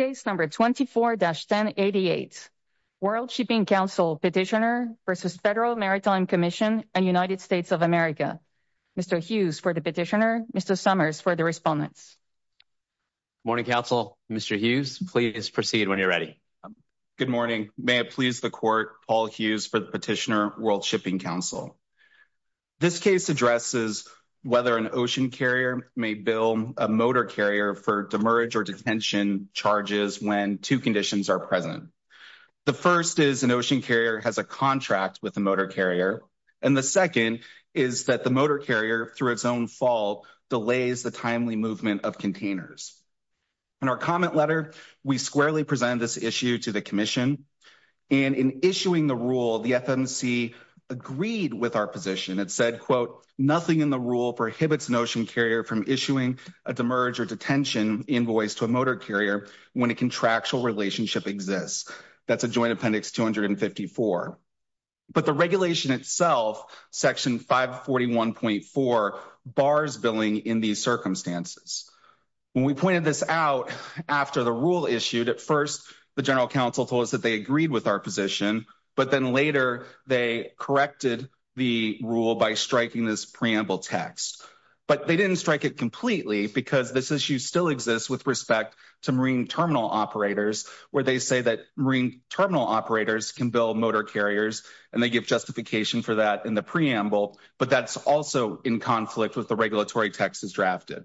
24-1088 World Shipping Council Petitioner v. Federal Maritime Commission and United States of America Mr. Hughes for the Petitioner Mr. Summers for the Respondents Morning Council Mr. Hughes please proceed when you're ready Good morning may it please the court Paul Hughes for the Petitioner World Shipping Council This case addresses whether an ocean carrier may bill a motor carrier for demerge or detention charges when two conditions are present. The first is an ocean carrier has a contract with the motor carrier and the second is that the motor carrier through its own fault delays the timely movement of containers. In our comment letter we squarely present this issue to the commission and in issuing the rule the FMC agreed with our position it said quote nothing in the rule prohibits an ocean carrier from issuing a demerge or detention invoice to a motor carrier when a contractual relationship exists. That's a joint appendix 254 but the regulation itself section 541.4 bars billing in these circumstances. When we pointed this out after the rule issued at first the general counsel told us that they agreed with our position but then later they corrected the rule by striking this preamble text but they didn't strike it completely because this issue still exists with respect to marine terminal operators where they say that marine terminal operators can bill motor carriers and they give justification for that in the preamble but that's also in conflict with the regulatory text is drafted.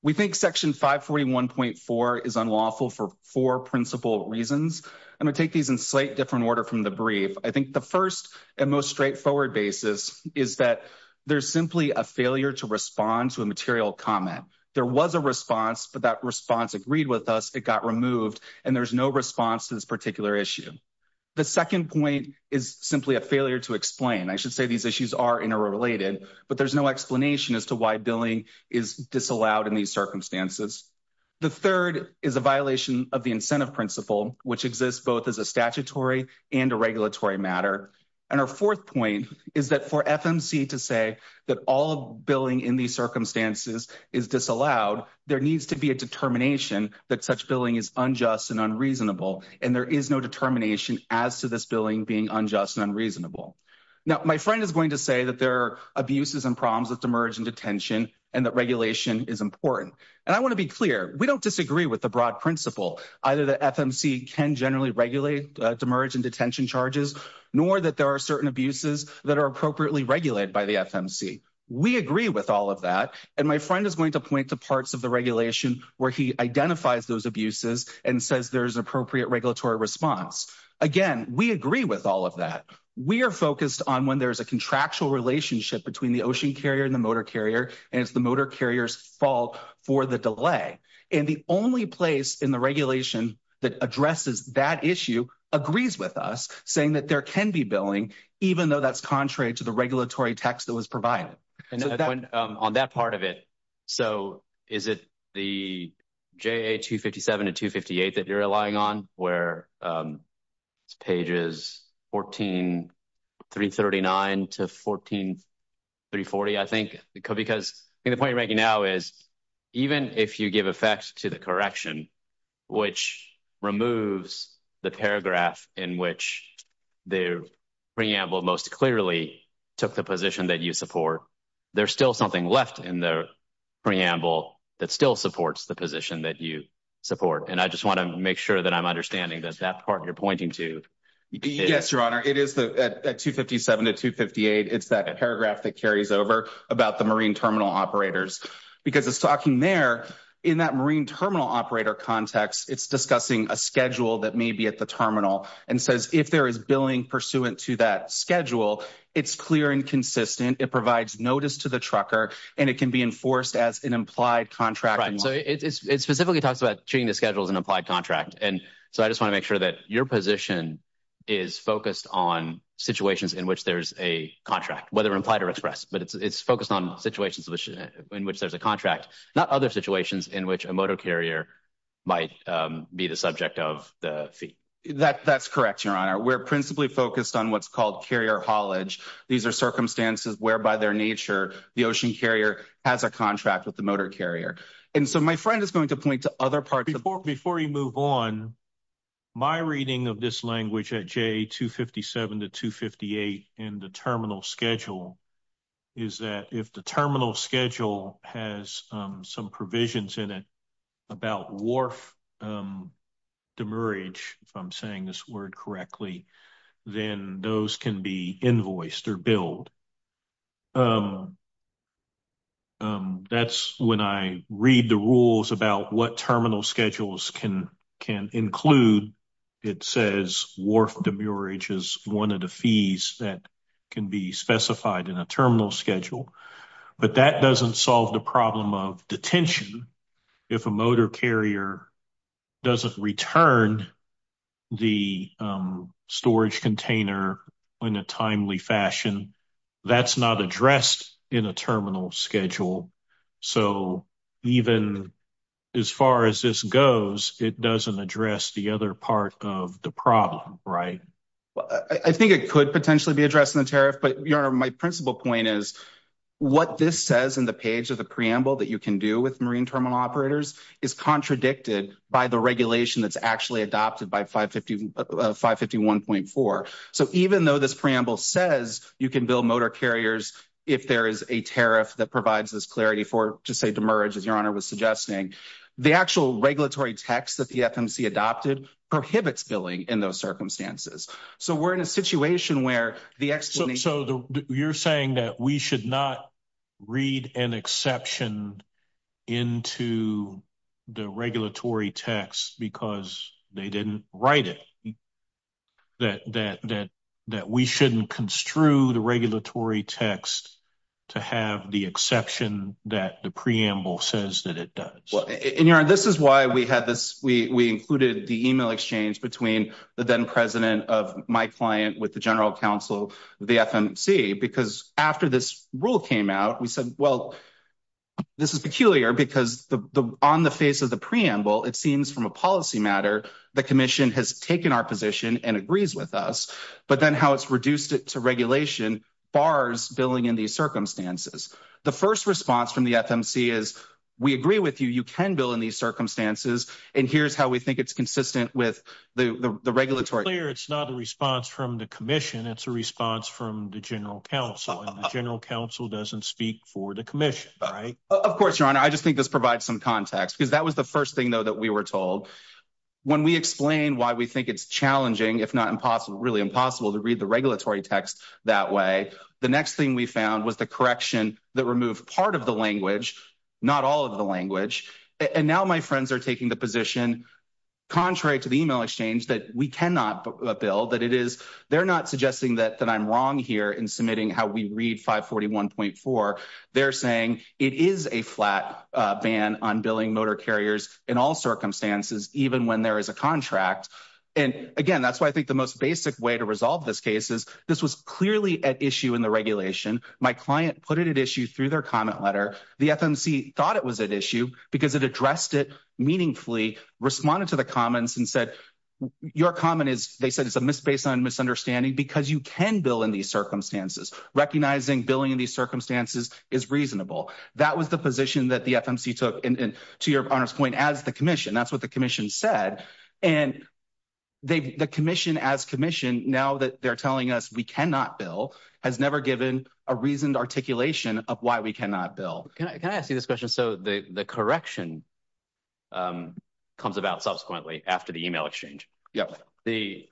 We think section 541.4 is unlawful for four principal reasons. I'm going to take these in slight different order from the brief. I think the first and most straightforward basis is that there's simply a failure to respond to a material comment. There was a response but that response agreed with us it got removed and there's no response to this particular issue. The second point is simply a failure to explain. I should say these issues are interrelated but there's no explanation as to why billing is disallowed in these circumstances. The third is a violation of the incentive principle which exists both as a statutory and a regulatory matter and our fourth point is that for FMC to say that all billing in these circumstances is disallowed there needs to be a determination that such billing is unjust and unreasonable and there is no determination as to this billing being unjust and unreasonable. Now my friend is going to say that there are abuses and problems with demerge and detention and that regulation is important and I want to be clear we don't disagree with the broad principle either the FMC can generally regulate demerge and detention charges nor that there are certain abuses that are appropriately regulated by the FMC. We agree with all of that and my friend is going to point to parts of the regulation where he identifies those abuses and says there's an appropriate regulatory response. Again we agree with all of that. We are focused on when there's a contractual relationship between the ocean carrier and the motor carrier and it's the motor carrier's fault for the delay and the only place in the regulation that addresses that issue agrees with us saying that there can be billing even though that's contrary to the regulatory text that was provided. On that part of it so is it the JA 257 and 258 that you're relying on where it's pages 14 339 to 14 340 I think because I think the point you're making now is even if you give effect to the correction which removes the paragraph in which the preamble most clearly took the position that you support there's still something left in the preamble that still supports the position that you support and I just want to make sure that I'm understanding that that part you're pointing to yes your honor it is the at 257 to 258 it's that paragraph that carries over about the marine terminal operators because it's talking there in that marine terminal operator context it's discussing a schedule that may be at the terminal and says if there is billing pursuant to that schedule it's clear and consistent it provides notice to the trucker and it can be enforced as an implied contract so it specifically talks about treating the schedule as an applied contract and so I just want to make sure that your position is focused on situations in which there's a contract whether implied or expressed but it's it's focused on situations which in which there's a contract not other situations in which a motor carrier might be the subject of the fee that that's correct your honor we're principally focused on what's called carrier haulage these are circumstances whereby their nature the ocean carrier has a contract with the motor carrier and so my friend is going to point to other parts before you move on my reading of this language at j257 to 258 in the terminal schedule is that if terminal schedule has some provisions in it about wharf demurrage if I'm saying this word correctly then those can be invoiced or billed that's when I read the rules about what terminal schedules can can include it says wharf demurrage is one of the fees that can be specified in a terminal schedule but that doesn't solve the problem of detention if a motor carrier doesn't return the storage container in a timely fashion that's not addressed in a terminal schedule so even as far as this goes it doesn't address the other part of the problem right I think it be addressed in the tariff but your my principal point is what this says in the page of the preamble that you can do with marine terminal operators is contradicted by the regulation that's actually adopted by 550 551.4 so even though this preamble says you can build motor carriers if there is a tariff that provides this clarity for to say demerge as your honor was suggesting the actual regulatory text that the fmc adopted prohibits billing in those circumstances so we're in a situation where the explanation so the you're saying that we should not read an exception into the regulatory text because they didn't write it that that that that we shouldn't construe the regulatory text to have the exception that the preamble says that it does in your this is why we had this we we included the email exchange between the then president of my client with the general counsel the fmc because after this rule came out we said well this is peculiar because the on the face of the preamble it seems from a policy matter the commission has taken our position and agrees with us but then how it's reduced it to regulation bars billing in these circumstances the first response from the fmc is we agree with you you can bill in these circumstances and here's how we think it's consistent with the the regulatory it's not a response from the commission it's a response from the general counsel and the general counsel doesn't speak for the commission right of course your honor i just think this provides some context because that was the first thing though that we were told when we explain why we think it's challenging if not impossible really impossible to read the regulatory text that way the next thing we found was the correction that removed part of the language not all of the language and now my friends are taking the position contrary to the email exchange that we cannot bill that it is they're not suggesting that that i'm wrong here in submitting how we read 541.4 they're saying it is a flat uh ban on billing motor carriers in all circumstances even when there is a contract and again that's why i think most basic way to resolve this case is this was clearly at issue in the regulation my client put it at issue through their comment letter the fmc thought it was at issue because it addressed it meaningfully responded to the comments and said your comment is they said it's a miss based on misunderstanding because you can bill in these circumstances recognizing billing in these circumstances is reasonable that was the position that the fmc took and to your honor's point as that's what the commission said and they've the commission as commission now that they're telling us we cannot bill has never given a reasoned articulation of why we cannot bill can i can i ask you this question so the the correction um comes about subsequently after the email exchange yep the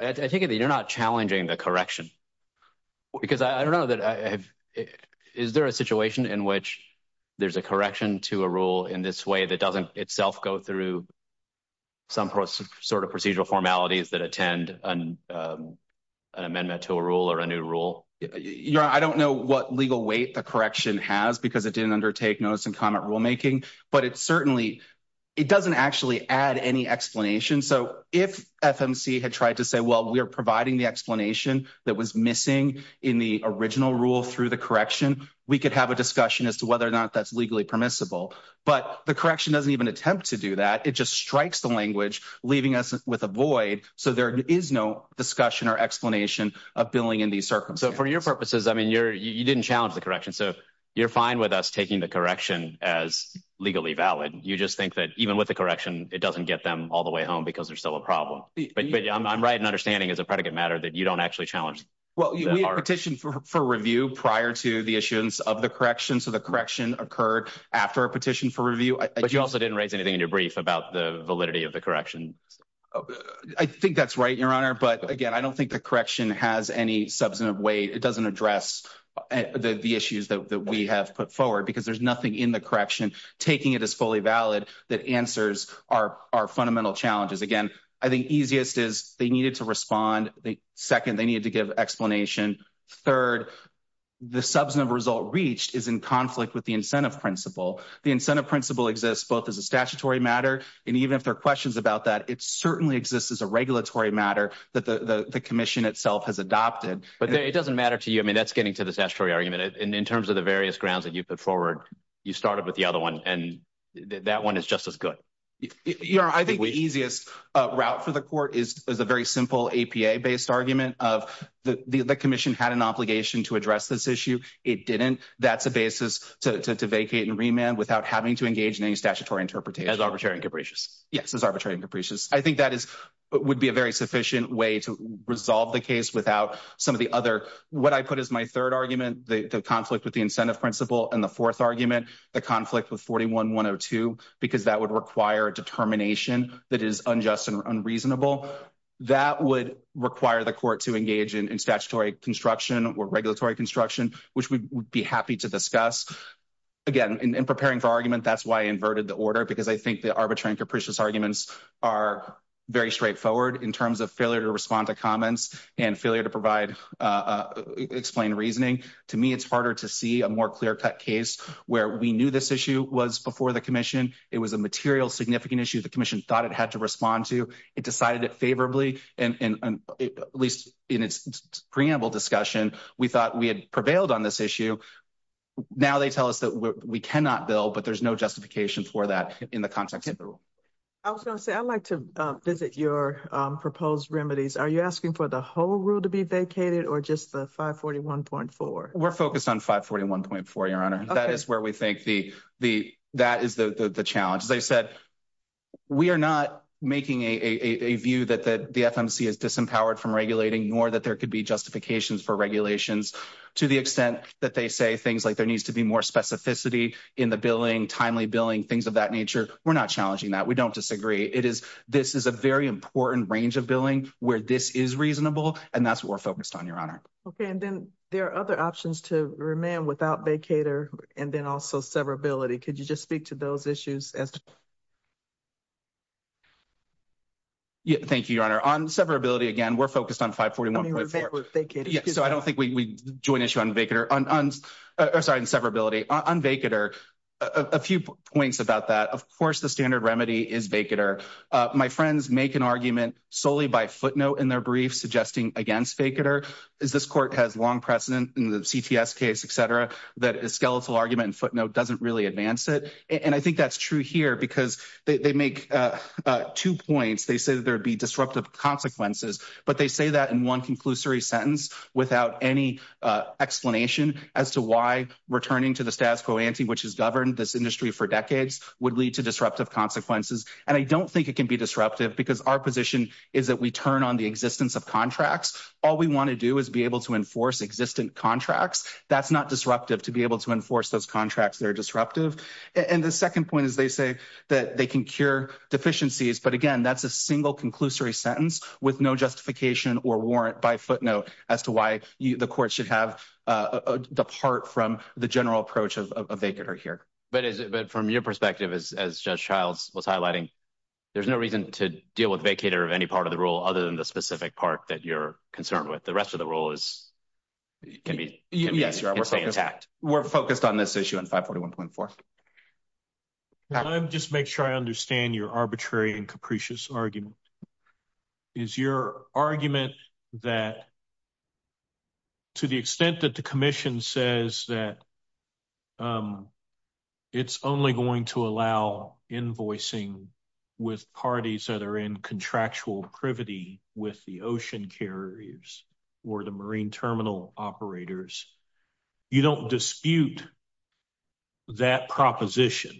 i think that you're not challenging the correction because i don't know that i have is there a situation in which there's a correction to a rule in this way that doesn't itself go through some sort of procedural formalities that attend an amendment to a rule or a new rule you're i don't know what legal weight the correction has because it didn't undertake notice and comment rulemaking but it certainly it doesn't actually add any explanation so if fmc had tried to say well we're providing the explanation that was missing in the original rule through the correction we could have a discussion as to whether or not that's legally permissible but the correction doesn't even attempt to do that it just strikes the language leaving us with a void so there is no discussion or explanation of billing in these circumstances for your purposes i mean you're you didn't challenge the correction so you're fine with us taking the correction as legally valid you just think that even with the correction it doesn't get them all the way home because they're still a problem but i'm right in understanding as a predicate matter that you don't actually challenge well we petition for review prior to the issuance of the correction so the correction occurred after a petition for review but you also didn't raise anything in your brief about the validity of the correction i think that's right your honor but again i don't think the correction has any substantive weight it doesn't address the issues that we have put forward because there's nothing in the correction taking it as fully valid that answers our our fundamental challenges again i think easiest is they needed to respond the second they needed to give explanation third the substantive result reached is in conflict with the incentive principle the incentive principle exists both as a statutory matter and even if there are questions about that it certainly exists as a regulatory matter that the the commission itself has adopted but it doesn't matter to you i mean that's getting to the statutory argument and in terms of the various grounds that you put forward you started with the other one and that one is just as good you know i think the easiest uh route for the court is is a very simple apa based argument of the the commission had an obligation to address this issue it didn't that's a basis to to vacate and remand without having to engage in any statutory interpretation as arbitrary and capricious yes as arbitrary and capricious i think that is would be a very sufficient way to resolve the case without some of the other what i put is my third argument the conflict with the incentive principle and the fourth argument the conflict with 41 102 because that would require a determination that is unjust and unreasonable that would require the court to engage in statutory construction or regulatory construction which we would be happy to discuss again in preparing for argument that's why i inverted the order because i think the arbitrary and capricious arguments are very straightforward in terms of failure to respond to comments and failure to provide uh explain reasoning to me it's harder to see a more clear-cut case where we knew this issue was before the commission it was a material significant issue the commission thought it had to respond to it decided it favorably and and at least in its preamble discussion we thought we had prevailed on this issue now they tell us that we cannot build but there's no justification for that in the context of the rule i was going to say i'd like to visit your proposed remedies are you asking for the whole rule to be vacated or just the 541.4 we're focused on 541.4 your honor that is where we think the the that is the the challenge as i said we are not making a a view that the the fmc is disempowered from regulating nor that there could be justifications for regulations to the extent that they say things like there needs to be more specificity in the billing timely billing things of that nature we're not challenging that we don't disagree it is this is a very important range of billing where this is reasonable and that's what we're focused on your honor okay and then there are other options to remain without vacator and then also severability could you just speak to those issues as yeah thank you your honor on severability again we're focused on 541.4 yeah so i don't think we join issue on vacator on uh sorry in severability on vacator a few points about that of course the standard remedy is vacator my friends make an argument solely by footnote in their briefs suggesting against vacator is this court has long precedent in the cts case etc that a skeletal argument footnote doesn't really advance it and i think that's true here because they make uh two points they say that there would be disruptive consequences but they say that in one conclusory sentence without any uh explanation as to why returning to the status quo ante which has governed this industry for decades would lead to disruptive consequences and i don't think it can be disruptive because our position is that we turn on the existence of contracts all we want to do is be able to enforce existent contracts that's not disruptive to be able to enforce those contracts that are disruptive and the second point is they say that they can cure deficiencies but again that's a single conclusory sentence with no justification or warrant by footnote as to why the court should have uh depart from the general approach of a vacator here but is it but from your perspective as judge childs was highlighting there's no reason to deal with vacator of any part of the rule other than the specific part that you're concerned with the rest of the rule is it can be yes you're intact we're focused on this issue in 541.4 let me just make sure i understand your arbitrary and capricious argument is your argument that to the extent that the commission says that it's only going to allow invoicing with parties that are in contractual privity with the ocean carriers or the marine terminal operators you don't dispute that proposition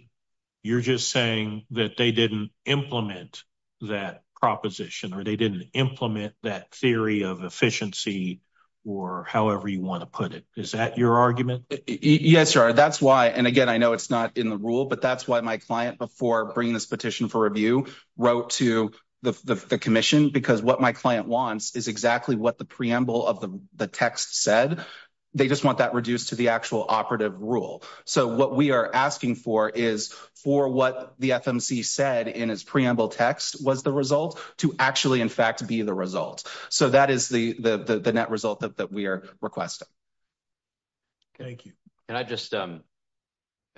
you're just saying that they didn't implement that proposition or they didn't implement that theory of efficiency or however you want to put it is that your argument yes sir that's why and again i know it's not in the rule but that's why my client before bringing this petition for review wrote to the the commission because what my client wants is exactly what the operative rule so what we are asking for is for what the fmc said in his preamble text was the result to actually in fact be the result so that is the the the net result that we are requesting thank you can i just um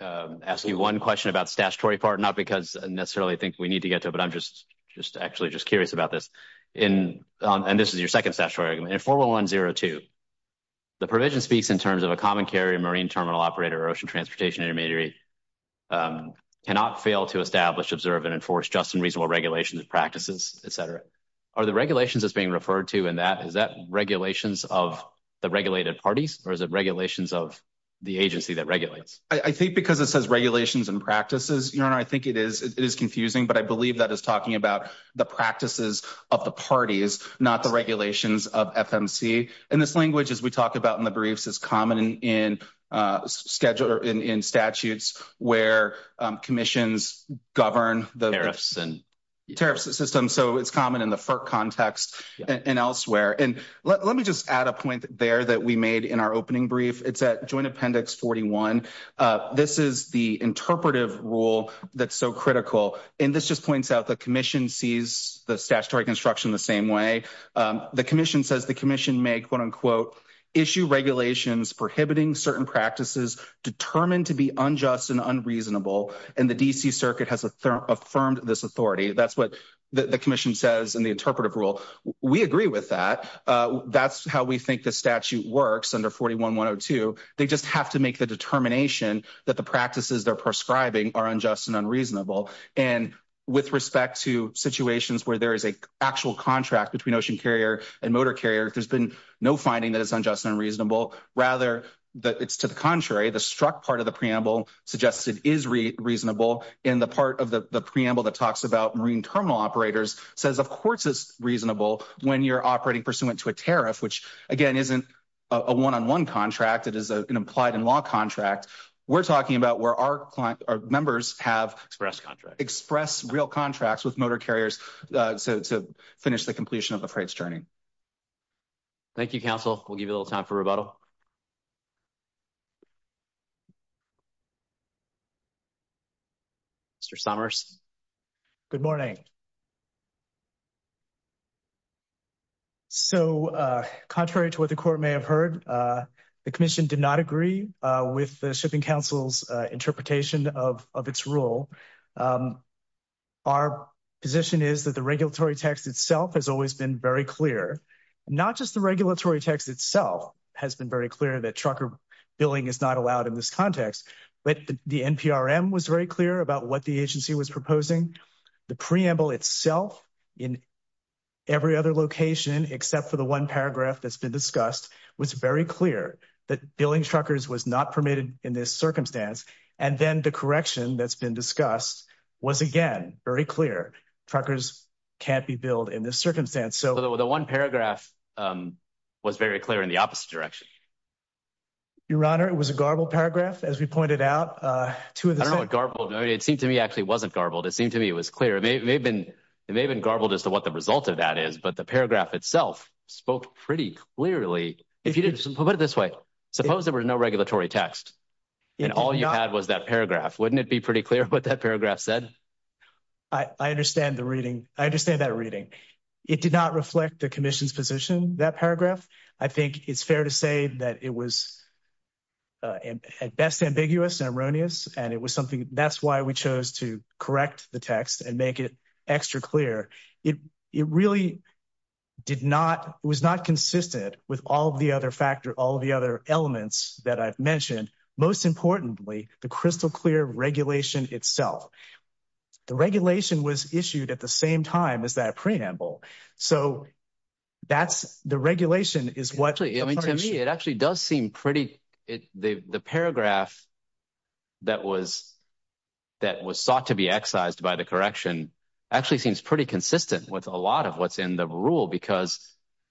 um ask you one question about statutory part not because i necessarily think we need to get to but i'm just just actually just curious about this in um and this is your second statutory argument in 4102 the provision speaks in terms of a common carrier marine terminal operator or ocean transportation intermediary cannot fail to establish observe and enforce just and reasonable regulations and practices etc are the regulations that's being referred to in that is that regulations of the regulated parties or is it regulations of the agency that regulates i think because it says regulations and practices your honor i think it is it is confusing but i is talking about the practices of the parties not the regulations of fmc and this language as we talk about in the briefs is common in uh schedule in in statutes where um commissions govern the tariffs and tariffs system so it's common in the fir context and elsewhere and let me just add a point there that we made in our opening brief it's at joint appendix 41 uh this is the interpretive rule that's so critical and this just points out the commission sees the statutory construction the same way um the commission says the commission may quote-unquote issue regulations prohibiting certain practices determined to be unjust and unreasonable and the dc circuit has affirmed this authority that's what the commission says in the interpretive rule we agree with that uh that's how we think the statute works under 41 102 they just have to make the determination that the practices they're prescribing are unjust and unreasonable and with respect to situations where there is a actual contract between ocean carrier and motor carrier there's been no finding that it's unjust and unreasonable rather that it's to the contrary the struck part of the preamble suggests it is reasonable in the part of the the preamble that talks about marine terminal operators says of course it's reasonable when you're operating pursuant to a tariff which again isn't a one-on-one contract it is a an implied in law contract we're talking about where our client our members have express contract express real contracts with motor carriers uh so to finish the completion of the freight's journey thank you council we'll give you a little time for rebuttal mr somers good morning so uh contrary to what the court may have heard uh the commission did not agree uh with the shipping council's uh interpretation of of its rule um our position is that the regulatory text itself has always been very clear not just the regulatory text itself has been very clear that trucker billing is not allowed in this context but the nprm was very clear about what the agency was proposing the preamble itself in every other location except for the one paragraph that's been discussed was very clear that billing truckers was not permitted in this circumstance and then the correction that's been discussed was again very clear truckers can't be billed in this circumstance so the one paragraph um was very clear in the opposite direction your honor it was a garbled paragraph as we pointed out uh two of the garbled it seemed to me actually wasn't garbled it seemed to me it was clear it may have been it may have been garbled as to what the result of that is but the paragraph itself spoke pretty clearly if you didn't put it this way suppose there was no regulatory text and all you had was that paragraph wouldn't it be pretty clear what that paragraph said i i understand the reading i understand that reading it did not reflect the commission's position that paragraph i think it's fair to say that it was uh and at best ambiguous and erroneous and it was something that's why we chose to correct the text and make it extra clear it it really did not was not consistent with all the other factor all the other elements that i've mentioned most importantly the crystal clear regulation itself the regulation was issued at the same time as that preamble so that's the regulation is what actually i mean to me it actually does seem pretty it the the paragraph that was that was sought to be excised by the correction actually seems pretty consistent with a lot of what's in the rule because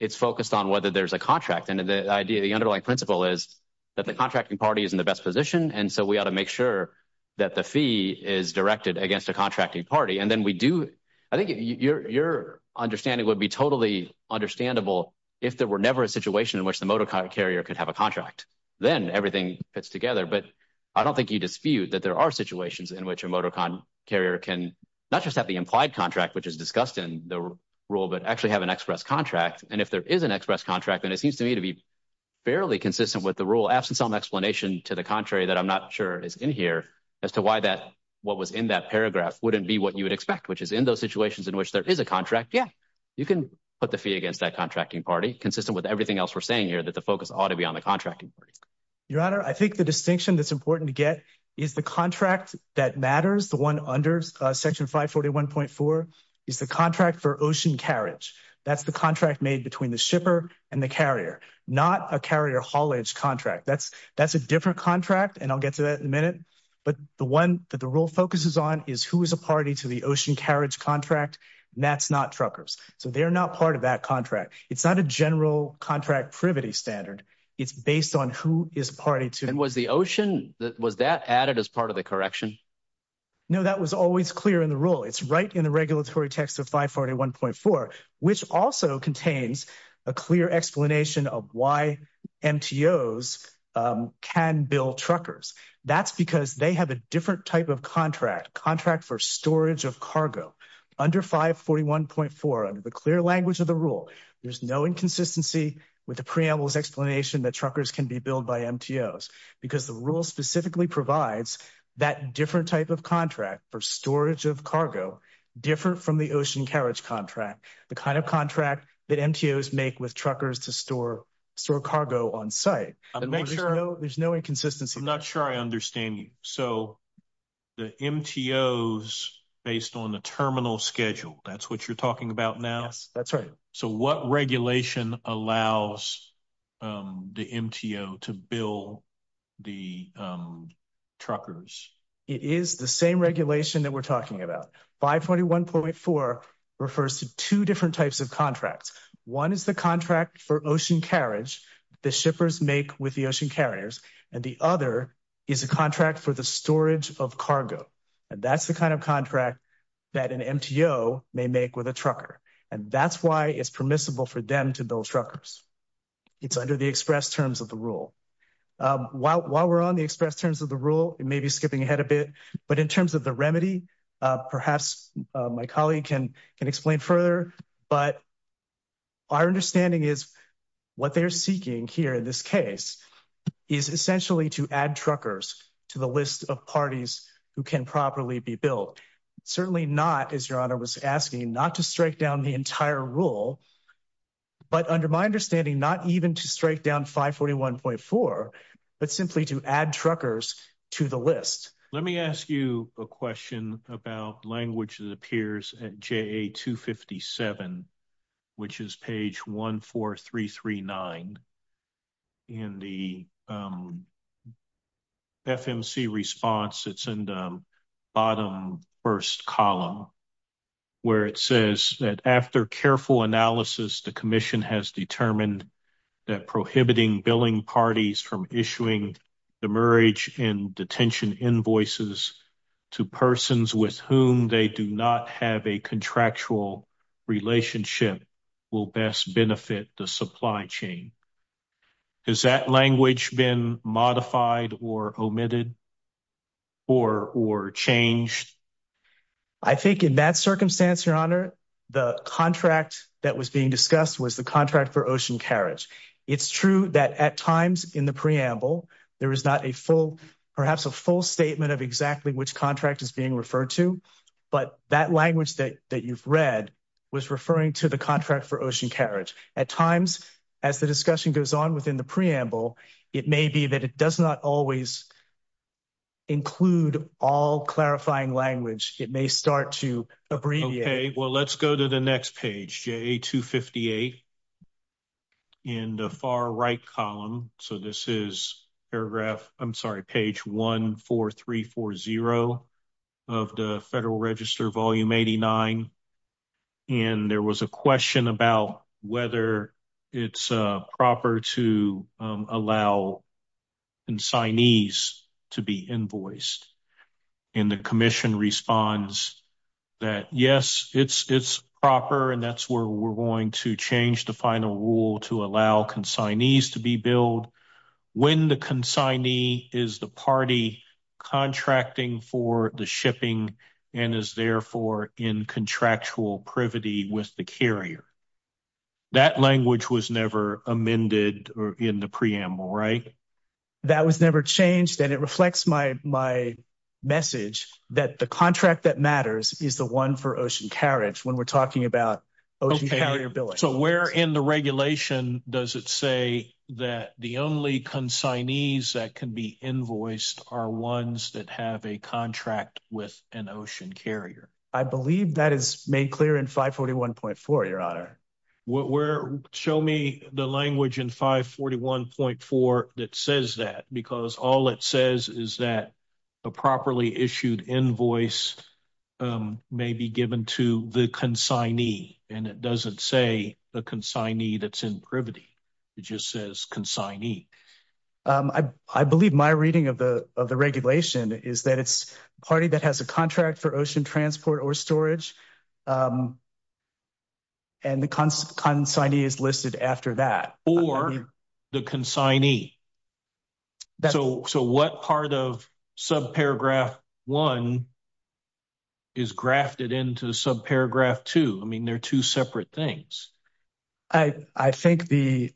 it's focused on whether there's a contract and the idea the underlying principle is that the contracting party is in the best position and so we ought to make sure that the fee is directed against a contracting party and then we do i think your your understanding would be totally understandable if there were a situation in which the motor car carrier could have a contract then everything fits together but i don't think you dispute that there are situations in which a motor car carrier can not just have the implied contract which is discussed in the rule but actually have an express contract and if there is an express contract and it seems to me to be fairly consistent with the rule absent some explanation to the contrary that i'm not sure is in here as to why that what was in that paragraph wouldn't be what you would expect which is in those situations in which there is a contract yeah you can put the fee against that contracting party consistent with everything else we're saying here that the focus ought to be on the contracting your honor i think the distinction that's important to get is the contract that matters the one under section 541.4 is the contract for ocean carriage that's the contract made between the shipper and the carrier not a carrier haulage contract that's that's a different contract and i'll get to that in a minute but the one that the rule focuses on is who is a party to the ocean carriage contract that's not truckers so they're not part of that contract it's not a general contract privity standard it's based on who is party to and was the ocean that was that added as part of the correction no that was always clear in the rule it's right in the regulatory text of 541.4 which also contains a clear explanation of why mtos can build truckers that's because they have a different type of contract contract for storage of cargo under 541.4 under the clear language of the rule there's no inconsistency with the preamble's explanation that truckers can be built by mtos because the rule specifically provides that different type of contract for storage of cargo different from the ocean carriage contract the kind of contract that mtos make with truckers to store store cargo on site and make sure there's no inconsistency i'm not sure i understand you so the mtos based on the terminal schedule that's what you're talking about now yes that's right so what regulation allows the mto to build the truckers it is the same regulation that we're talking about 541.4 refers to two different types of contracts one is the contract for ocean carriage the shippers make with the ocean carriers and the other is a contract for the storage of cargo and that's the kind of contract that an mto may make with a trucker and that's why it's permissible for them to build truckers it's under the express terms of the rule while while we're on the express terms of the rule it may be skipping ahead a bit but in terms of the remedy perhaps my colleague can can explain further but our understanding is what they're seeking here in this case is essentially to add truckers to the list of parties who can properly be built certainly not as your honor was asking not to strike down the entire rule but under my understanding not even to strike down 541.4 but simply to add truckers to the list let me ask you a question about language that appears at ja257 which is page 14339 in the fmc response it's in the bottom first column where it says that after careful analysis the commission has determined that prohibiting billing parties from issuing the marriage and detention invoices to persons with whom they do not have a contractual relationship will best benefit the supply chain has that language been modified or omitted or or changed i think in that circumstance your honor the contract that was being discussed was the for ocean carriage it's true that at times in the preamble there is not a full perhaps a full statement of exactly which contract is being referred to but that language that that you've read was referring to the contract for ocean carriage at times as the discussion goes on within the preamble it may be that it does not always include all clarifying language it may start to abbreviate okay well let's go to the next page ja258 in the far right column so this is paragraph i'm sorry page 14340 of the federal register volume 89 and there was a question about whether it's proper to allow insignees to be invoiced and the commission responds that yes it's it's proper and that's where we're going to change the final rule to allow consignees to be billed when the consignee is the party contracting for the shipping and is therefore in contractual privity with the carrier that language was never amended or in the preamble right that was never changed and it reflects my message that the contract that matters is the one for ocean carriage when we're talking about okay so where in the regulation does it say that the only consignees that can be invoiced are ones that have a contract with an ocean carrier i believe that is made clear in 541.4 what we're show me the language in 541.4 that says that because all it says is that a properly issued invoice may be given to the consignee and it doesn't say the consignee that's in privity it just says consignee i i believe my reading of the of the regulation is that it's a party that has a contract for ocean transport or storage and the consignee is listed after that or the consignee so so what part of subparagraph one is grafted into subparagraph two i mean they're two separate things i i think the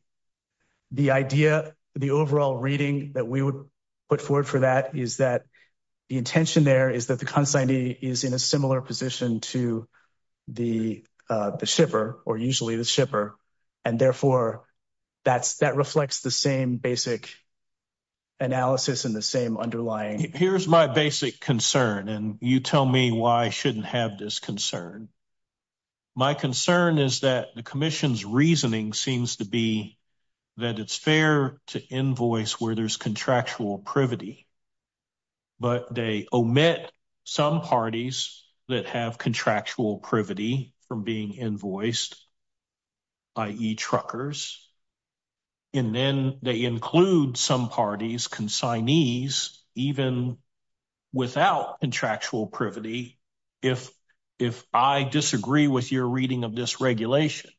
the idea the overall reading that we would put forward for that is that the intention there is that the consignee is in a similar position to the uh the shipper or usually the shipper and therefore that's that reflects the same basic analysis and the same underlying here's my basic concern and you tell me why i shouldn't have this concern my concern is that the commission's reasoning seems to be that it's fair to invoice where there's contractual privity but they omit some parties that have contractual privity from being invoiced i.e truckers and then they include some parties consignees even without contractual privity if if i disagree with your reading of this regulation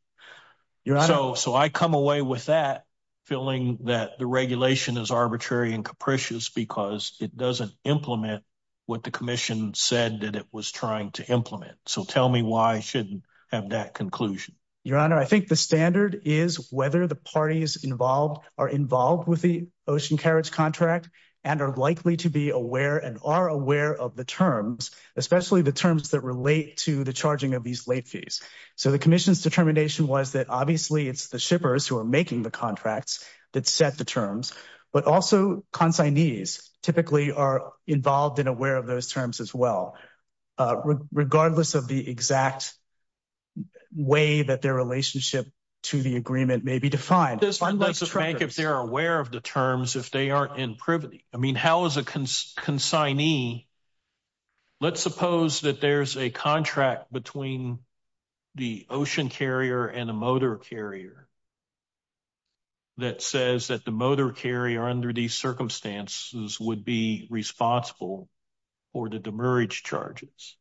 so so i come away with that feeling that the regulation is arbitrary and capricious because it doesn't implement what the commission said that it was trying to implement so tell me why i shouldn't have that conclusion your honor i think the standard is whether the parties involved are involved with the ocean carriage contract and are likely to be aware and are aware of the terms especially the terms that relate to the charging of these late fees so the commission's determination was that obviously it's the shippers who are making the contracts that set the terms but also consignees typically are involved and aware of those terms as well uh regardless of the exact way that their relationship to the agreement may be defined if they're aware of the terms if they aren't in privity i mean how is a consignee let's suppose that there's a contract between the ocean carrier and a motor carrier that says that the motor carrier under these circumstances would be responsible for the demurrage charges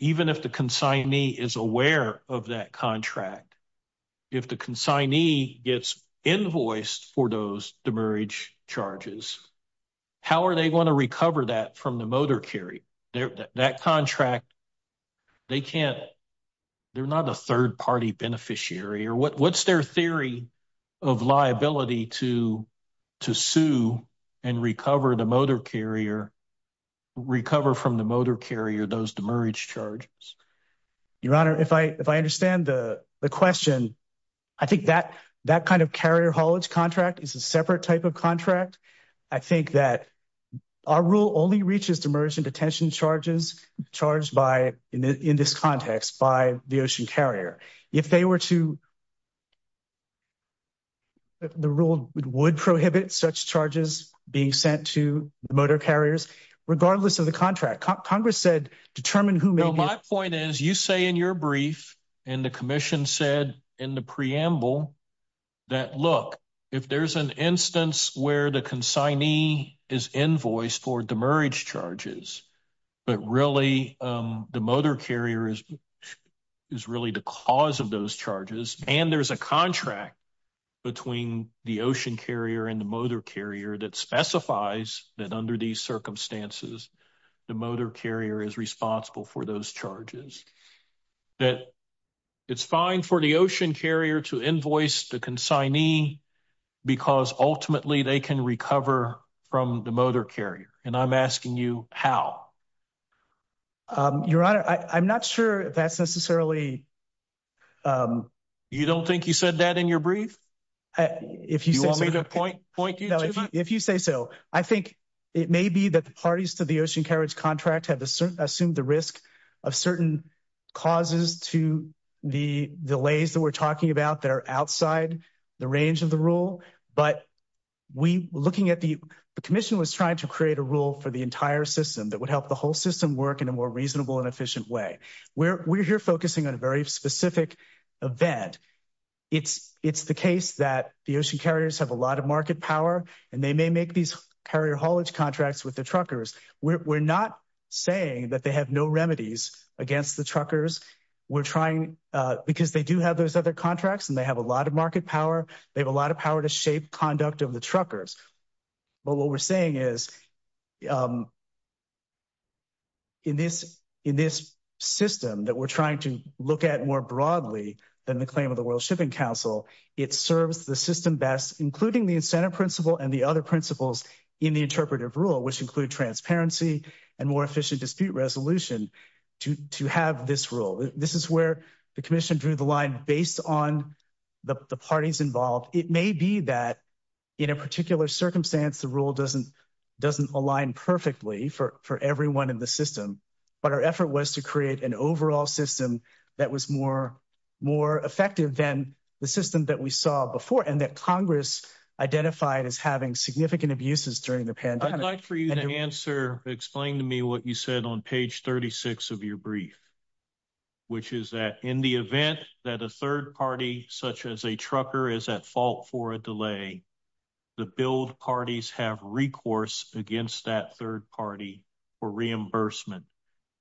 even if the consignee is aware of that contract if the consignee gets invoiced for those demurrage charges how are they going to recover that from the motor carry their that contract they can't they're not a third party beneficiary or what what's their theory of liability to to sue and recover the motor carrier recover from the motor carrier those demurrage charges your honor if i if i understand the the question i think that that kind of carrier haulage contract is a separate type of contract i think that our rule only reaches demurge and detention charges charged by in this context by the ocean carrier if they were to the rule would prohibit such charges being sent to motor carriers regardless of the contract congress said determine who my point is you say in your brief and the commission said in the preamble that look if there's an instance where the consignee is invoiced for demurrage charges but really the motor carrier is is really the cause of those charges and there's a contract between the ocean carrier and the motor carrier that specifies that under these circumstances the motor carrier is responsible for those charges that it's fine for the ocean carrier to invoice the consignee because ultimately they can recover from the motor carrier and i'm asking you how um your honor i i'm not sure that's necessarily um you don't think you said that in your brief if you want me to point point you know if you say so i think it may be that parties to the ocean carriage contract have assumed the risk of certain causes to the delays that we're talking about that are outside the range of the rule but we looking at the commission was trying to create a rule for the entire system that would help the whole system work in a more reasonable and efficient way we're we're here focusing on a very specific event it's it's the case that the ocean carriers have a lot of market power and they may make these carrier haulage contracts with the truckers we're not saying that they have no remedies against the truckers we're trying uh because they do have those other contracts and they have a lot of market power they have a lot of power to shape conduct of the truckers but what we're saying is um in this in this system that we're trying to look at more broadly than the claim of the world shipping council it serves the system best including the incentive principle and the other principles in the interpretive rule which include transparency and more efficient dispute resolution to to have this rule this is where the commission drew the line based on the parties involved it may be that in a particular circumstance the rule doesn't doesn't align perfectly for for everyone in the system but our effort was to create an overall system that was more more effective than the system that we saw before and that congress identified as having significant abuses during the pandemic for you to answer explain to me what you said on page 36 of your brief which is that in the event that a third party such as a trucker is at fault for a delay the build parties have recourse against that third party for reimbursement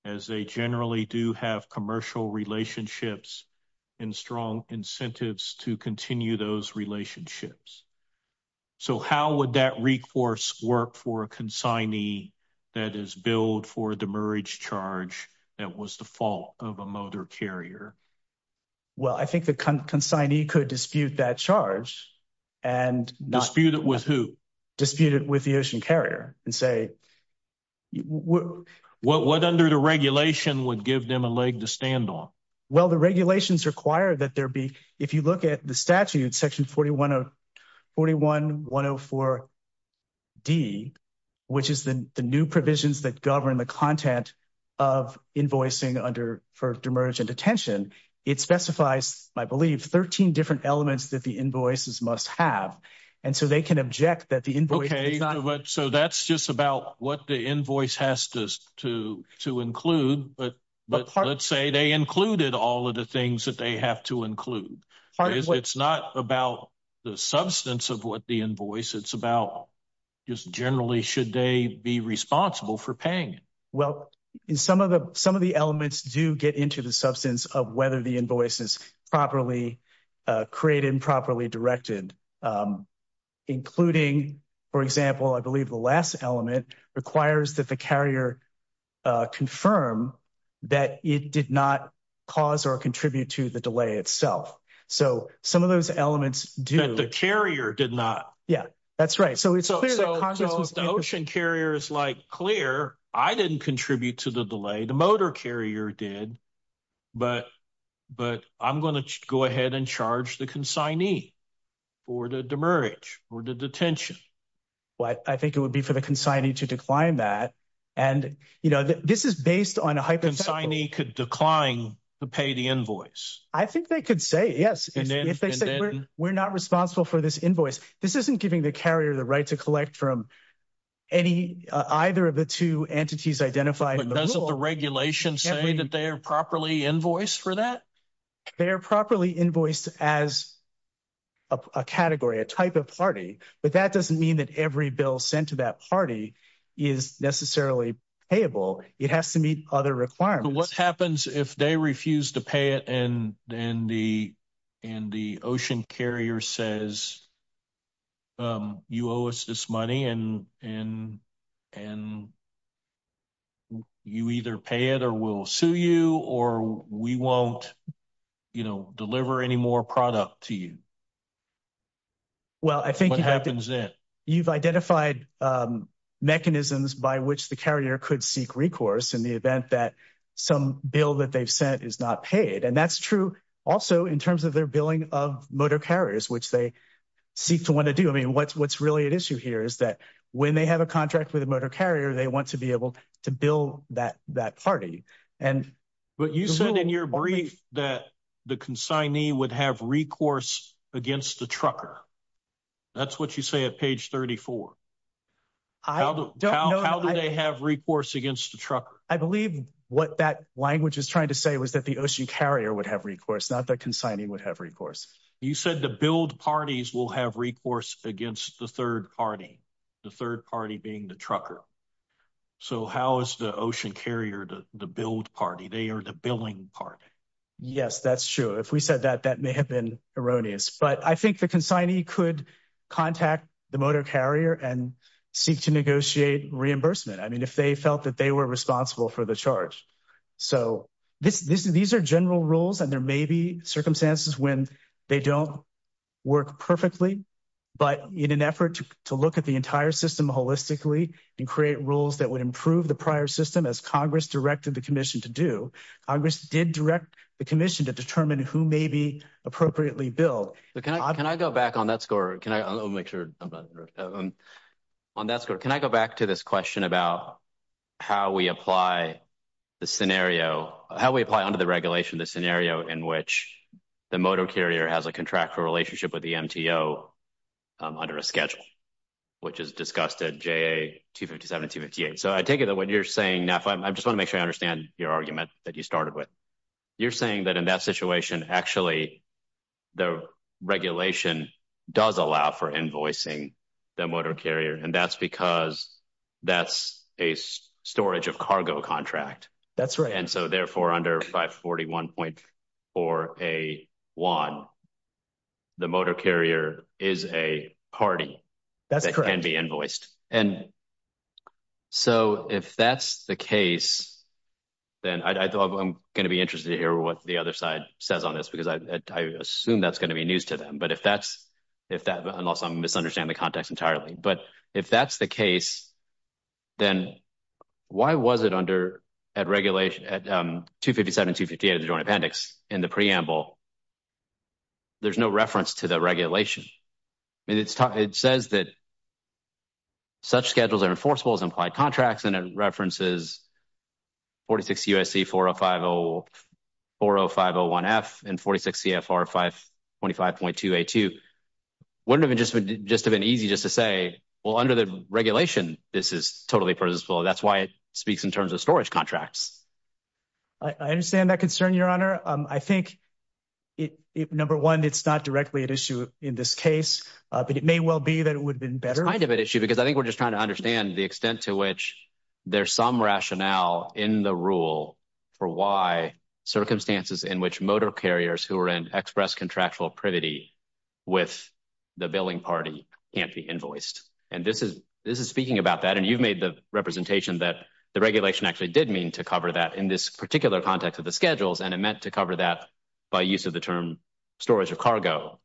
as they generally do have commercial relationships and strong incentives to continue those relationships so how would that recourse work for a consignee that is billed for a demurrage charge that was the fault of a motor carrier well i think the consignee could dispute that charge and dispute with who dispute it with the ocean carrier and say what what under the regulation would give them a leg to stand on well the regulations require that there be if you look at the statute section 41 of 41 104 d which is the the new provisions that govern the content of invoicing under for demurrage and detention it specifies i believe 13 different elements that the invoices must have and so they can object that the invoice okay but so that's just about what the invoice has to to to include but but let's say they included all of the things that they have to include it's not about the substance of what the invoice it's about just generally should they be responsible for paying well in some of the some of the elements do get into the substance of whether the invoice is properly created and properly directed including for example i believe the last element requires that the carrier confirm that it did not cause or contribute to the delay itself so some of those elements do the carrier did not yeah that's right so it's clear that the ocean carrier is like clear i didn't contribute to the delay the motor carrier did but but i'm going to go ahead and charge the consignee for the demurrage or the detention well i think it would be for the consignee to decline that and you know this is based on a hyper consignee could decline to pay the invoice i think they could say yes if they say we're not responsible for this invoice this isn't giving the carrier the right to collect from any either of the two entities identified does the regulation say that they are properly invoiced for that they are properly invoiced as a category a type of party but that doesn't mean that every bill sent to that party is necessarily payable it has to meet other requirements what happens if they refuse to and then the and the ocean carrier says um you owe us this money and and and you either pay it or we'll sue you or we won't you know deliver any more product to you well i think what happens then you've identified um mechanisms by which the carrier could seek recourse in the event that some bill that they've sent is not paid and that's true also in terms of their billing of motor carriers which they seek to want to do i mean what's what's really at issue here is that when they have a contract with a motor carrier they want to be able to bill that that party and but you said in your brief that the consignee would have recourse against the trucker that's what you say at page 34 i don't know how do they have recourse against the trucker i believe what that language is trying to say was that the ocean carrier would have recourse not that consigning would have recourse you said the build parties will have recourse against the third party the third party being the trucker so how is the ocean carrier to the build party they are the billing party yes that's true if we said that that may have been erroneous but i think the consignee could contact the motor carrier and seek to negotiate reimbursement i mean if they felt that they were responsible for the charge so this this these are general rules and there may be circumstances when they don't work perfectly but in an effort to look at the entire system holistically and create rules that would improve the prior system as congress directed the commission to do congress did direct the commission to determine who may be appropriately billed can i can i go back on that score can i make sure i'm not on that score can i go back to this question about how we apply the scenario how we apply under the regulation the scenario in which the motor carrier has a contractual relationship with the mto under a schedule which is discussed at ja257 and 258 so i take it that what you're saying i just want to make sure i understand your argument that you started with you're saying that in that situation actually the regulation does allow for invoicing the motor carrier and that's because that's a storage of cargo contract that's right and so therefore under 541.4a one the motor carrier is a party that can be invoiced and so if that's the case then i thought i'm going to be interested to hear what the other side says on this because i i assume that's going to be news to them but if that's if that unless i'm misunderstanding the context entirely but if that's the case then why was it under at regulation at um 257 258 of the joint appendix in the preamble there's no reference to the regulation i mean it's time it says that such schedules are enforceable as implied contracts and it references 46 usc 4050 40501f and 46 cfr 525.2a2 wouldn't have been just just have been easy just to say well under the regulation this is totally presentable that's why it speaks in terms of storage contracts i understand that concern your honor um i think it number one it's not directly at issue in this case uh but it may well be that it would have been better kind of an issue because i think we're just trying to understand the extent to which there's some rationale in the rule for why circumstances in which motor carriers who are in express contractual privity with the billing party can't be invoiced and this is this is speaking about that and you've made the representation that the regulation actually did mean to cover that in this particular context of the schedules and it meant to cover that by use of the term storage of cargo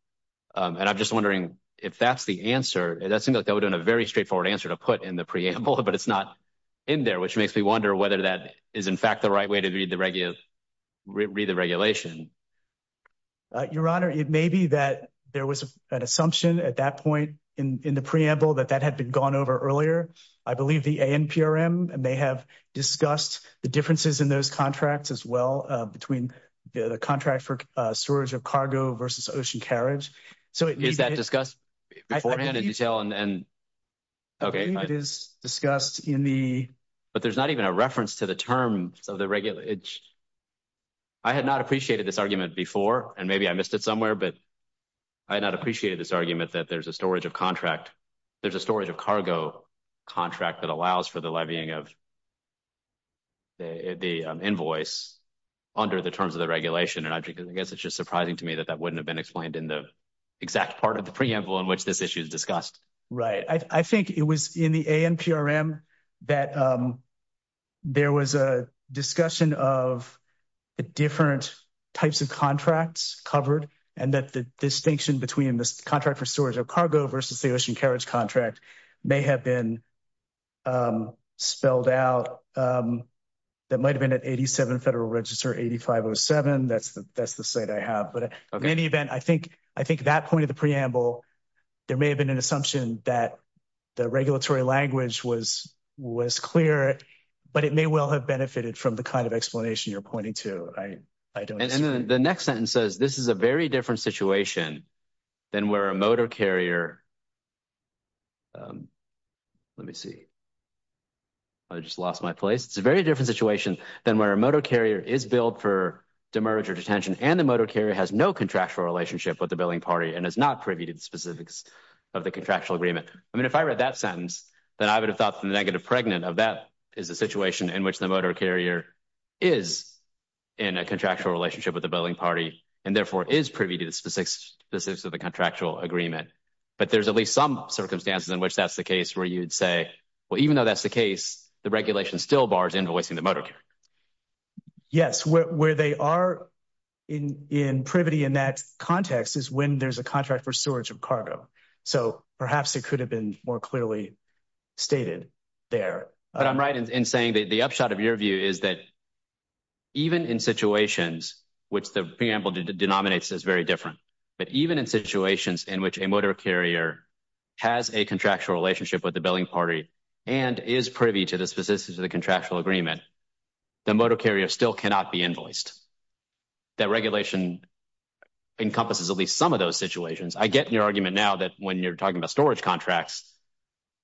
and i'm just wondering if that's the answer that seems like that would have been a very straightforward answer to put in the preamble but it's not in there which makes me wonder whether that is in fact the right way to read the regular read the regulation your honor it may be that there was an assumption at that point in in preamble that that had been gone over earlier i believe the anprm and they have discussed the differences in those contracts as well uh between the contract for uh storage of cargo versus ocean carriage so is that discussed beforehand in detail and okay it is discussed in the but there's not even a reference to the term so the regular i had not appreciated this argument before and maybe i but i had not appreciated this argument that there's a storage of contract there's a storage of cargo contract that allows for the levying of the invoice under the terms of the regulation and i guess it's just surprising to me that that wouldn't have been explained in the exact part of the preamble in which this issue is discussed right i think it was in the anprm that um there was a discussion of the different types of contracts covered and that the distinction between this contract for storage of cargo versus the ocean carriage contract may have been spelled out um that might have been at 87 federal register 8507 that's the that's the site i have but in any event i think i think that point of the preamble there may have been an assumption that the regulatory language was was clear but it may well have benefited from the kind of explanation you're pointing to i i don't know the next sentence says this is a very different situation than where a motor carrier um let me see i just lost my place it's a very different situation than where a motor carrier is billed for demerger detention and the motor carrier has no contractual relationship with the billing party and is not privy to the specifics of the contractual agreement i mean if i read that sentence then i would have thought the negative pregnant of that is the situation in which the motor carrier is in a contractual relationship with the billing party and therefore is privy to the specifics of the contractual agreement but there's at least some circumstances in which that's the case where you'd say well even though that's the case the regulation still bars invoicing the motor care yes where they are in in privity in that context is when there's a contract for storage of cargo so perhaps it could have been more clearly stated there but i'm right in saying that the upshot of your view is that even in situations which the preamble denominates is very different but even in situations in which a motor carrier has a contractual relationship with the billing party and is privy to the specifics of the contractual agreement the motor carrier still cannot be invoiced that regulation encompasses at least some of those situations i get in your argument now that when you're talking about storage contracts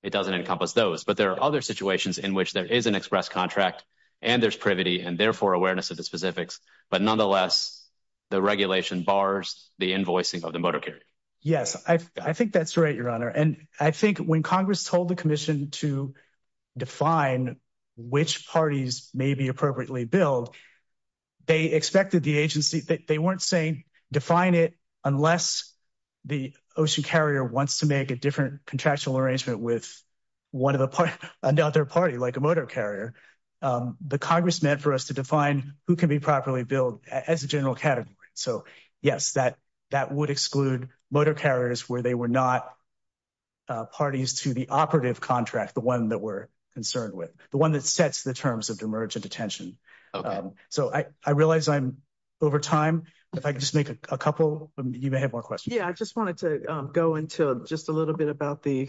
it doesn't encompass those but there are other situations in which there is an express contract and there's privity and therefore awareness of the specifics but nonetheless the regulation bars the invoicing of the motor carrier yes i i think that's right your honor and i think when congress told the commission to define which parties may be appropriately billed they expected the agency that they weren't saying define it unless the ocean carrier wants to make a different contractual arrangement with one of the part another party like a motor carrier the congress meant for us to define who can be properly billed as a general category so yes that that would exclude motor carriers where they were not parties to the operative contract the one that we're concerned with the one that sets the terms of demergent attention so i i realize i'm over time if i just make a couple you may have more questions yeah i just wanted to go into just a little bit about the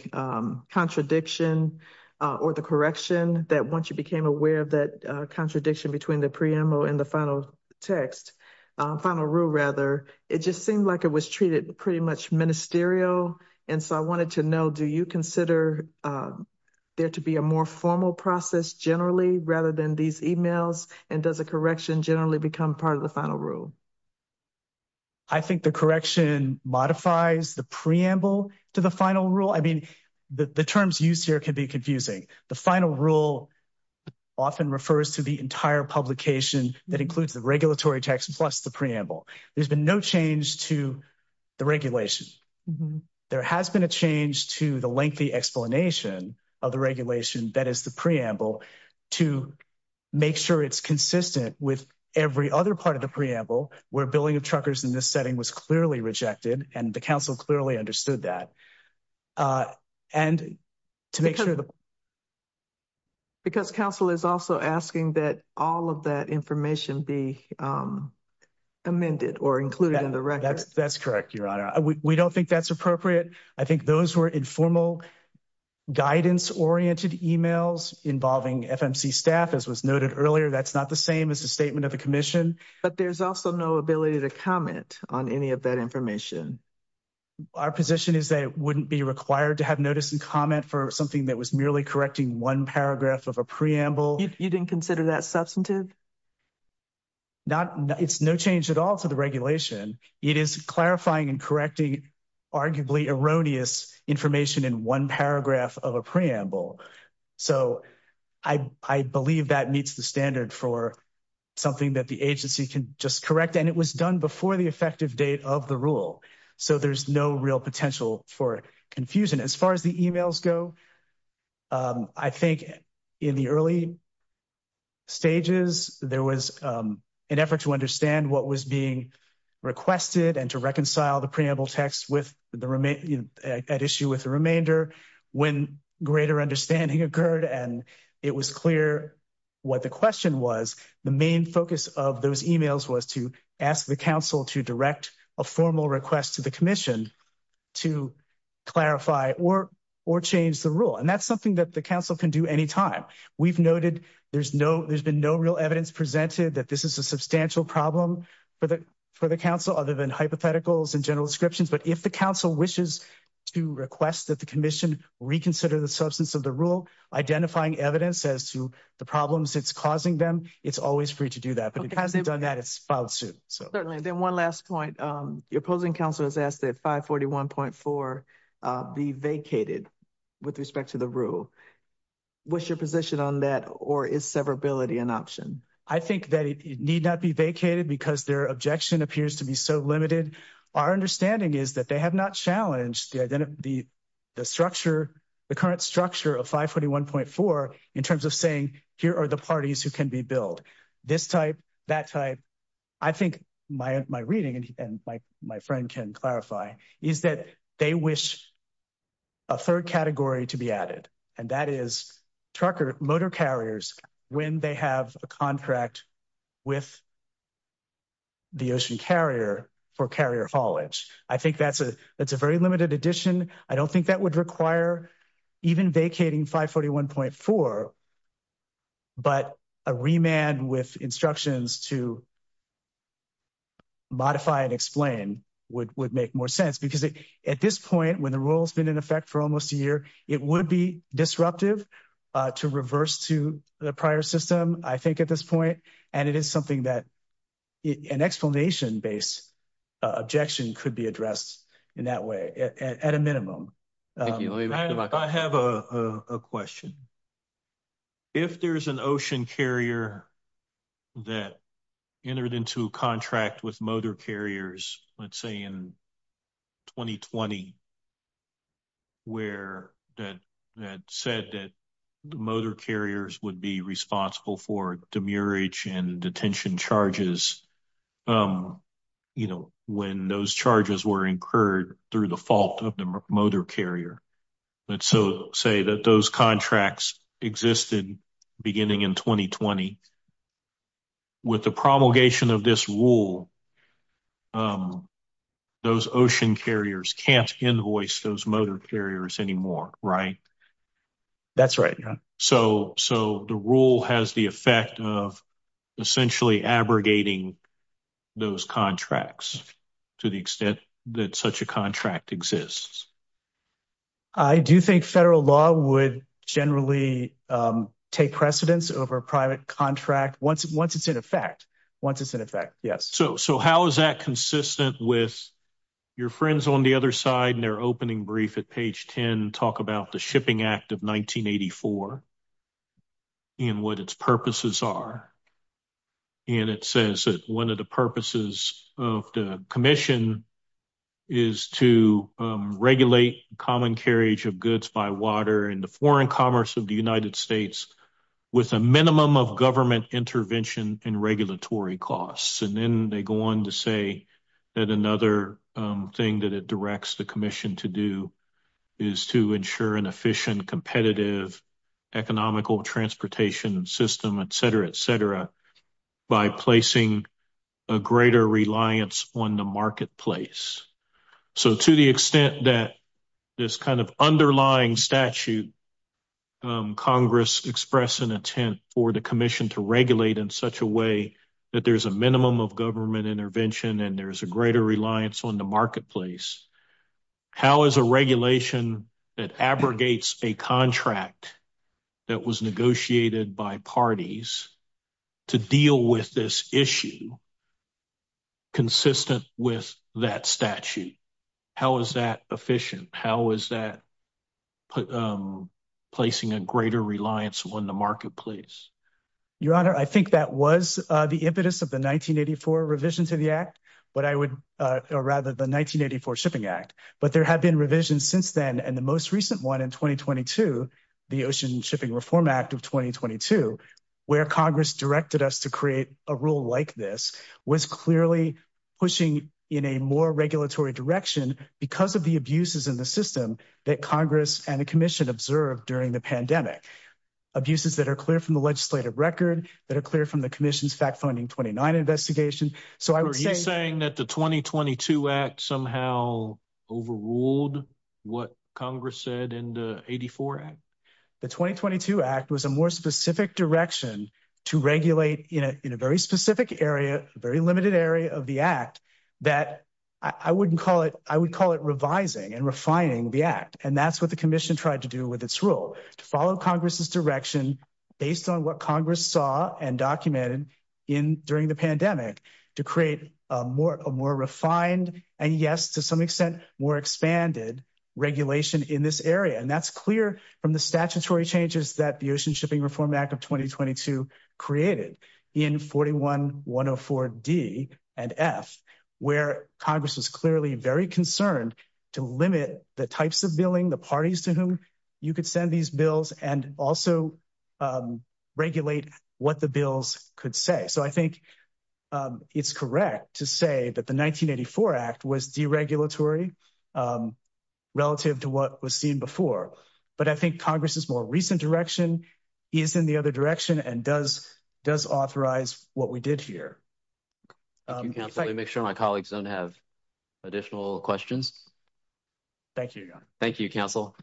contradiction or the correction that once you became aware of that contradiction between the preamble and the final text final rule rather it just seemed like it was treated pretty much ministerial and so i wanted to know do you consider there to be a more formal process generally rather than these emails and does a correction generally become part of the final rule i think the correction modifies the preamble to the final rule i mean the terms used here can be confusing the final rule often refers to the entire publication that includes the regulatory text plus the preamble there's been no change to the regulation there has been a change to the lengthy explanation of the regulation that is the preamble to make sure it's consistent with every other part of the preamble where billing of truckers in this setting was clearly rejected and the council clearly understood that uh and to make sure because council is also asking that all of that information be amended or included in the record that's correct your honor we don't think that's appropriate i think those were informal guidance oriented emails involving fmc staff as was noted earlier that's not the same as the statement of the commission but there's also no ability to comment on any of that information our position is that it wouldn't be required to have notice and comment for something that was merely correcting one paragraph of a preamble you didn't consider that substantive not it's no change at all to the regulation it is clarifying and correcting arguably erroneous information in one paragraph of a preamble so i i believe that meets the standard for something that the agency can just correct and it was done before the effective date of the rule so there's no real potential for confusion as far as the emails go um i think in the early stages there was an effort to understand what was being requested and to reconcile the preamble text with the remain at issue with the remainder when greater understanding occurred and it was clear what the question was the main focus of those emails was to ask the council to direct a formal request to the commission to clarify or or change the rule and that's something that the council can do anytime we've noted there's no there's been no real evidence presented that this is a substantial problem for the for the council other than hypotheticals and general descriptions but if the council wishes to request that the commission reconsider the substance of the rule identifying evidence as to the problems it's causing them it's always free to do that but it hasn't done that it's filed soon so certainly then one last point um your opposing council has asked that 541.4 uh be vacated with respect to the rule what's your position on that or is severability an option i think that it need not be vacated because their objection appears to be so limited our understanding is that they have not challenged the identity the structure the current structure of 541.4 in terms of saying here are the parties who can be billed this type that type i think my my reading and my my friend can clarify is that they wish a third category to be added and that is trucker motor carriers when they have a contract with the ocean carrier for carrier haulage i think that's a that's a very limited addition i don't think that would require even vacating 541.4 but a remand with instructions to modify and explain would would make more sense because at this point when the rule has been in effect for almost a year it would be disruptive uh to reverse to the prior system i think at this and it is something that an explanation-based objection could be addressed in that way at a minimum i have a a question if there's an ocean carrier that entered into a contract with motor carriers let's say in 2020 where that that said that the motor carriers would be responsible for demurrage and detention charges um you know when those charges were incurred through the fault of the motor carrier but so say that those contracts existed beginning in 2020 with the promulgation of this rule um those ocean carriers can't invoice those motor carriers anymore right that's right so so the rule has the effect of essentially abrogating those contracts to the extent that such a contract exists i do think federal law would generally um take precedence over a private contract once once it's in effect once it's in effect yes so so how is that consistent with your friends on the other side and their opening brief at page 10 talk about the shipping act of 1984 and what its purposes are and it says that one of the purposes of the commission is to regulate common carriage of goods by water and the foreign commerce of the united states with a minimum of government intervention and regulatory costs and then they go on to say that another thing that it directs the commission to do is to ensure an efficient competitive economical transportation system etc etc by placing a greater reliance on the marketplace so to the extent that this kind of underlying statute congress express an intent for the greater reliance on the marketplace how is a regulation that abrogates a contract that was negotiated by parties to deal with this issue consistent with that statute how is that efficient how is that um placing a greater reliance on the marketplace your honor i think that was uh impetus of the 1984 revision to the act but i would uh or rather the 1984 shipping act but there have been revisions since then and the most recent one in 2022 the ocean shipping reform act of 2022 where congress directed us to create a rule like this was clearly pushing in a more regulatory direction because of the abuses in the system that congress and the commission observed during the pandemic abuses that are clear from the legislative record that are clear from the commission's fact funding 29 investigation so i was saying that the 2022 act somehow overruled what congress said in the 84 act the 2022 act was a more specific direction to regulate in a very specific area a very limited area of the act that i wouldn't call it i would call it revising and refining the act and that's what the commission tried to do with its rule to follow congress's direction based on what congress saw and documented in during the pandemic to create a more a more refined and yes to some extent more expanded regulation in this area and that's clear from the statutory changes that the ocean shipping reform act of 2022 created in 41 104 d and f where congress was clearly very concerned to limit the types of billing the parties to whom you could send these bills and also regulate what the bills could say so i think it's correct to say that the 1984 act was deregulatory relative to what was seen before but i think congress's more recent direction is in the other direction and does does authorize what we did here make sure my colleagues don't have additional questions thank you thank you counsel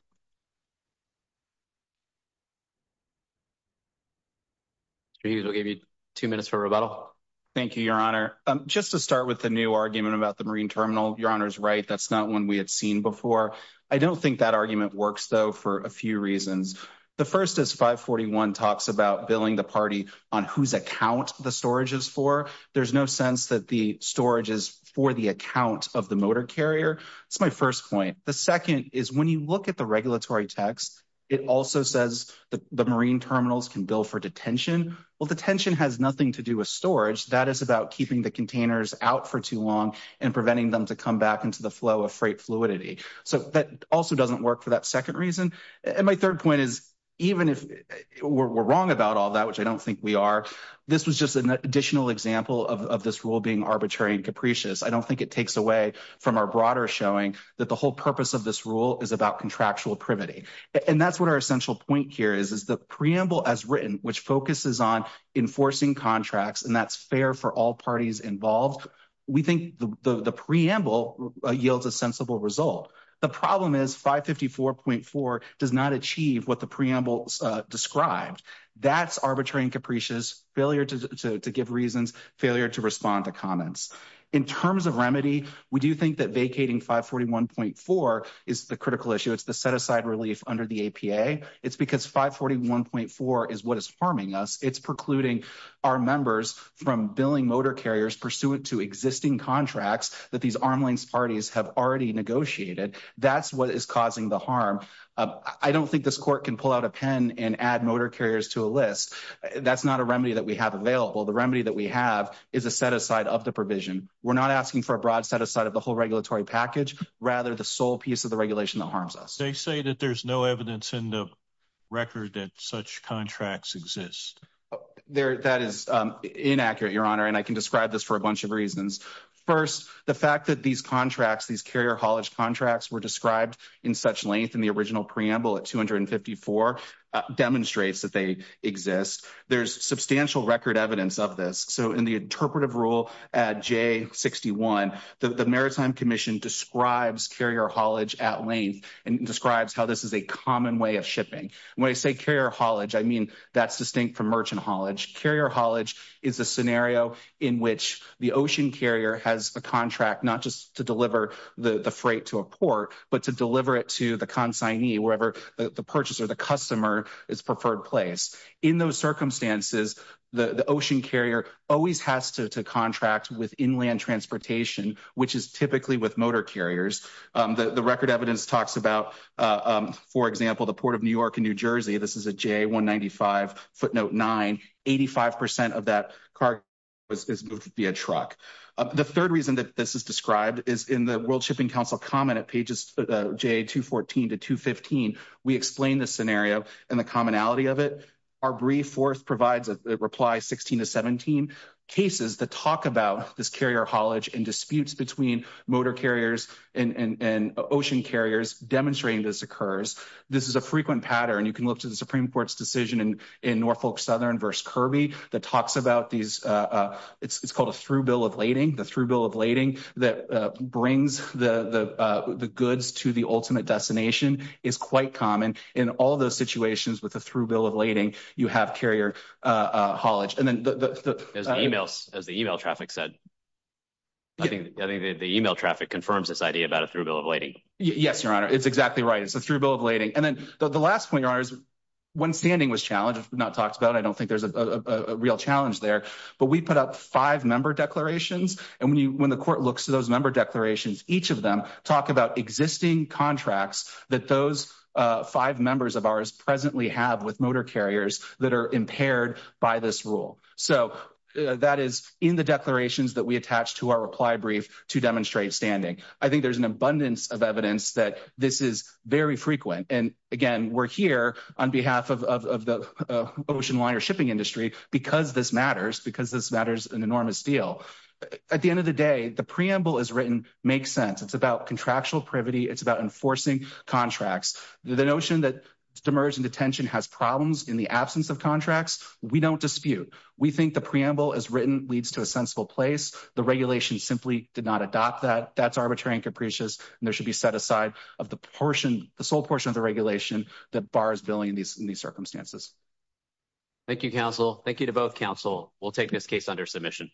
jesus will give you two minutes for rebuttal thank you your honor um just to start with the new argument about the marine terminal your honor's right that's not one we had seen before i don't think that argument works though for a few reasons the first is 541 talks about billing the party on whose account the storage is for there's no sense that the storage is for the count of the motor carrier that's my first point the second is when you look at the regulatory text it also says the marine terminals can bill for detention well the tension has nothing to do with storage that is about keeping the containers out for too long and preventing them to come back into the flow of freight fluidity so that also doesn't work for that second reason and my third point is even if we're wrong about all that which i don't think we are this was just an additional example of this rule being arbitrary and capricious i don't think it takes away from our broader showing that the whole purpose of this rule is about contractual privity and that's what our essential point here is is the preamble as written which focuses on enforcing contracts and that's fair for all parties involved we think the the preamble yields a sensible result the problem is 554.4 does not achieve what the preamble described that's arbitrary and capricious failure to to give reasons failure to respond to comments in terms of remedy we do think that vacating 541.4 is the critical issue it's the set-aside relief under the apa it's because 541.4 is what is harming us it's precluding our members from billing motor carriers pursuant to existing contracts that these armlanes parties have already negotiated that's what is causing the harm i don't think this court can pull out a pen and add motor carriers to a list that's not a remedy that we have available the remedy that we have is a set aside of the provision we're not asking for a broad set aside of the whole regulatory package rather the sole piece of the regulation that harms us they say that there's no evidence in the record that such contracts exist there that is inaccurate your honor and i can describe this for a bunch of reasons first the fact that these contracts these carrier haulage contracts were described in such length in the original preamble at 254 demonstrates that they exist there's substantial record evidence of this so in the interpretive rule at j61 the maritime commission describes carrier haulage at length and describes how this is a common way of shipping when i say carrier haulage i mean that's distinct from merchant haulage carrier haulage is a scenario in which the ocean carrier has a contract not just to deliver the the freight to a port but to deliver it to the consignee wherever the purchaser the customer is preferred place in those circumstances the the ocean carrier always has to to contract with inland transportation which is typically with motor carriers the the record evidence talks about for example the port of new york and new jersey this is a j195 footnote 9 85 of that car was moved via truck the third reason that this is described is in the world shipping council comment at pages j214 to 215 we explain this scenario and the commonality of it our brief fourth provides a reply 16 to 17 cases that talk about this carrier haulage and disputes between motor carriers and and ocean carriers demonstrating this occurs this is a frequent pattern you can look to the supreme court's decision in in norfolk southern verse kirby that talks about these uh uh it's called a through bill of lading the through bill of lading that uh brings the the uh the goods to the ultimate destination is quite common in all those situations with a through bill of lading you have carrier uh uh haulage and then the the emails as the email traffic said i think i think the email traffic confirms this idea about a through bill yes your honor it's exactly right it's a through bill of lading and then the last point your honors when standing was challenged not talked about i don't think there's a a real challenge there but we put up five member declarations and when you when the court looks to those member declarations each of them talk about existing contracts that those uh five members of ours presently have with motor carriers that are impaired by this rule so that is in the declarations that we attach to our reply brief to demonstrate standing i think there's an abundance of evidence that this is very frequent and again we're here on behalf of of the ocean liner shipping industry because this matters because this matters an enormous deal at the end of the day the preamble is written makes sense it's about contractual privity it's about enforcing contracts the notion that demerge and detention has problems in the absence of contracts we don't dispute we think the preamble as written leads to a sensible place the regulation simply did not adopt that that's arbitrary and capricious and there should be set aside of the portion the sole portion of the regulation that bars billing in these in these circumstances thank you counsel thank you to both counsel we'll take this case under submission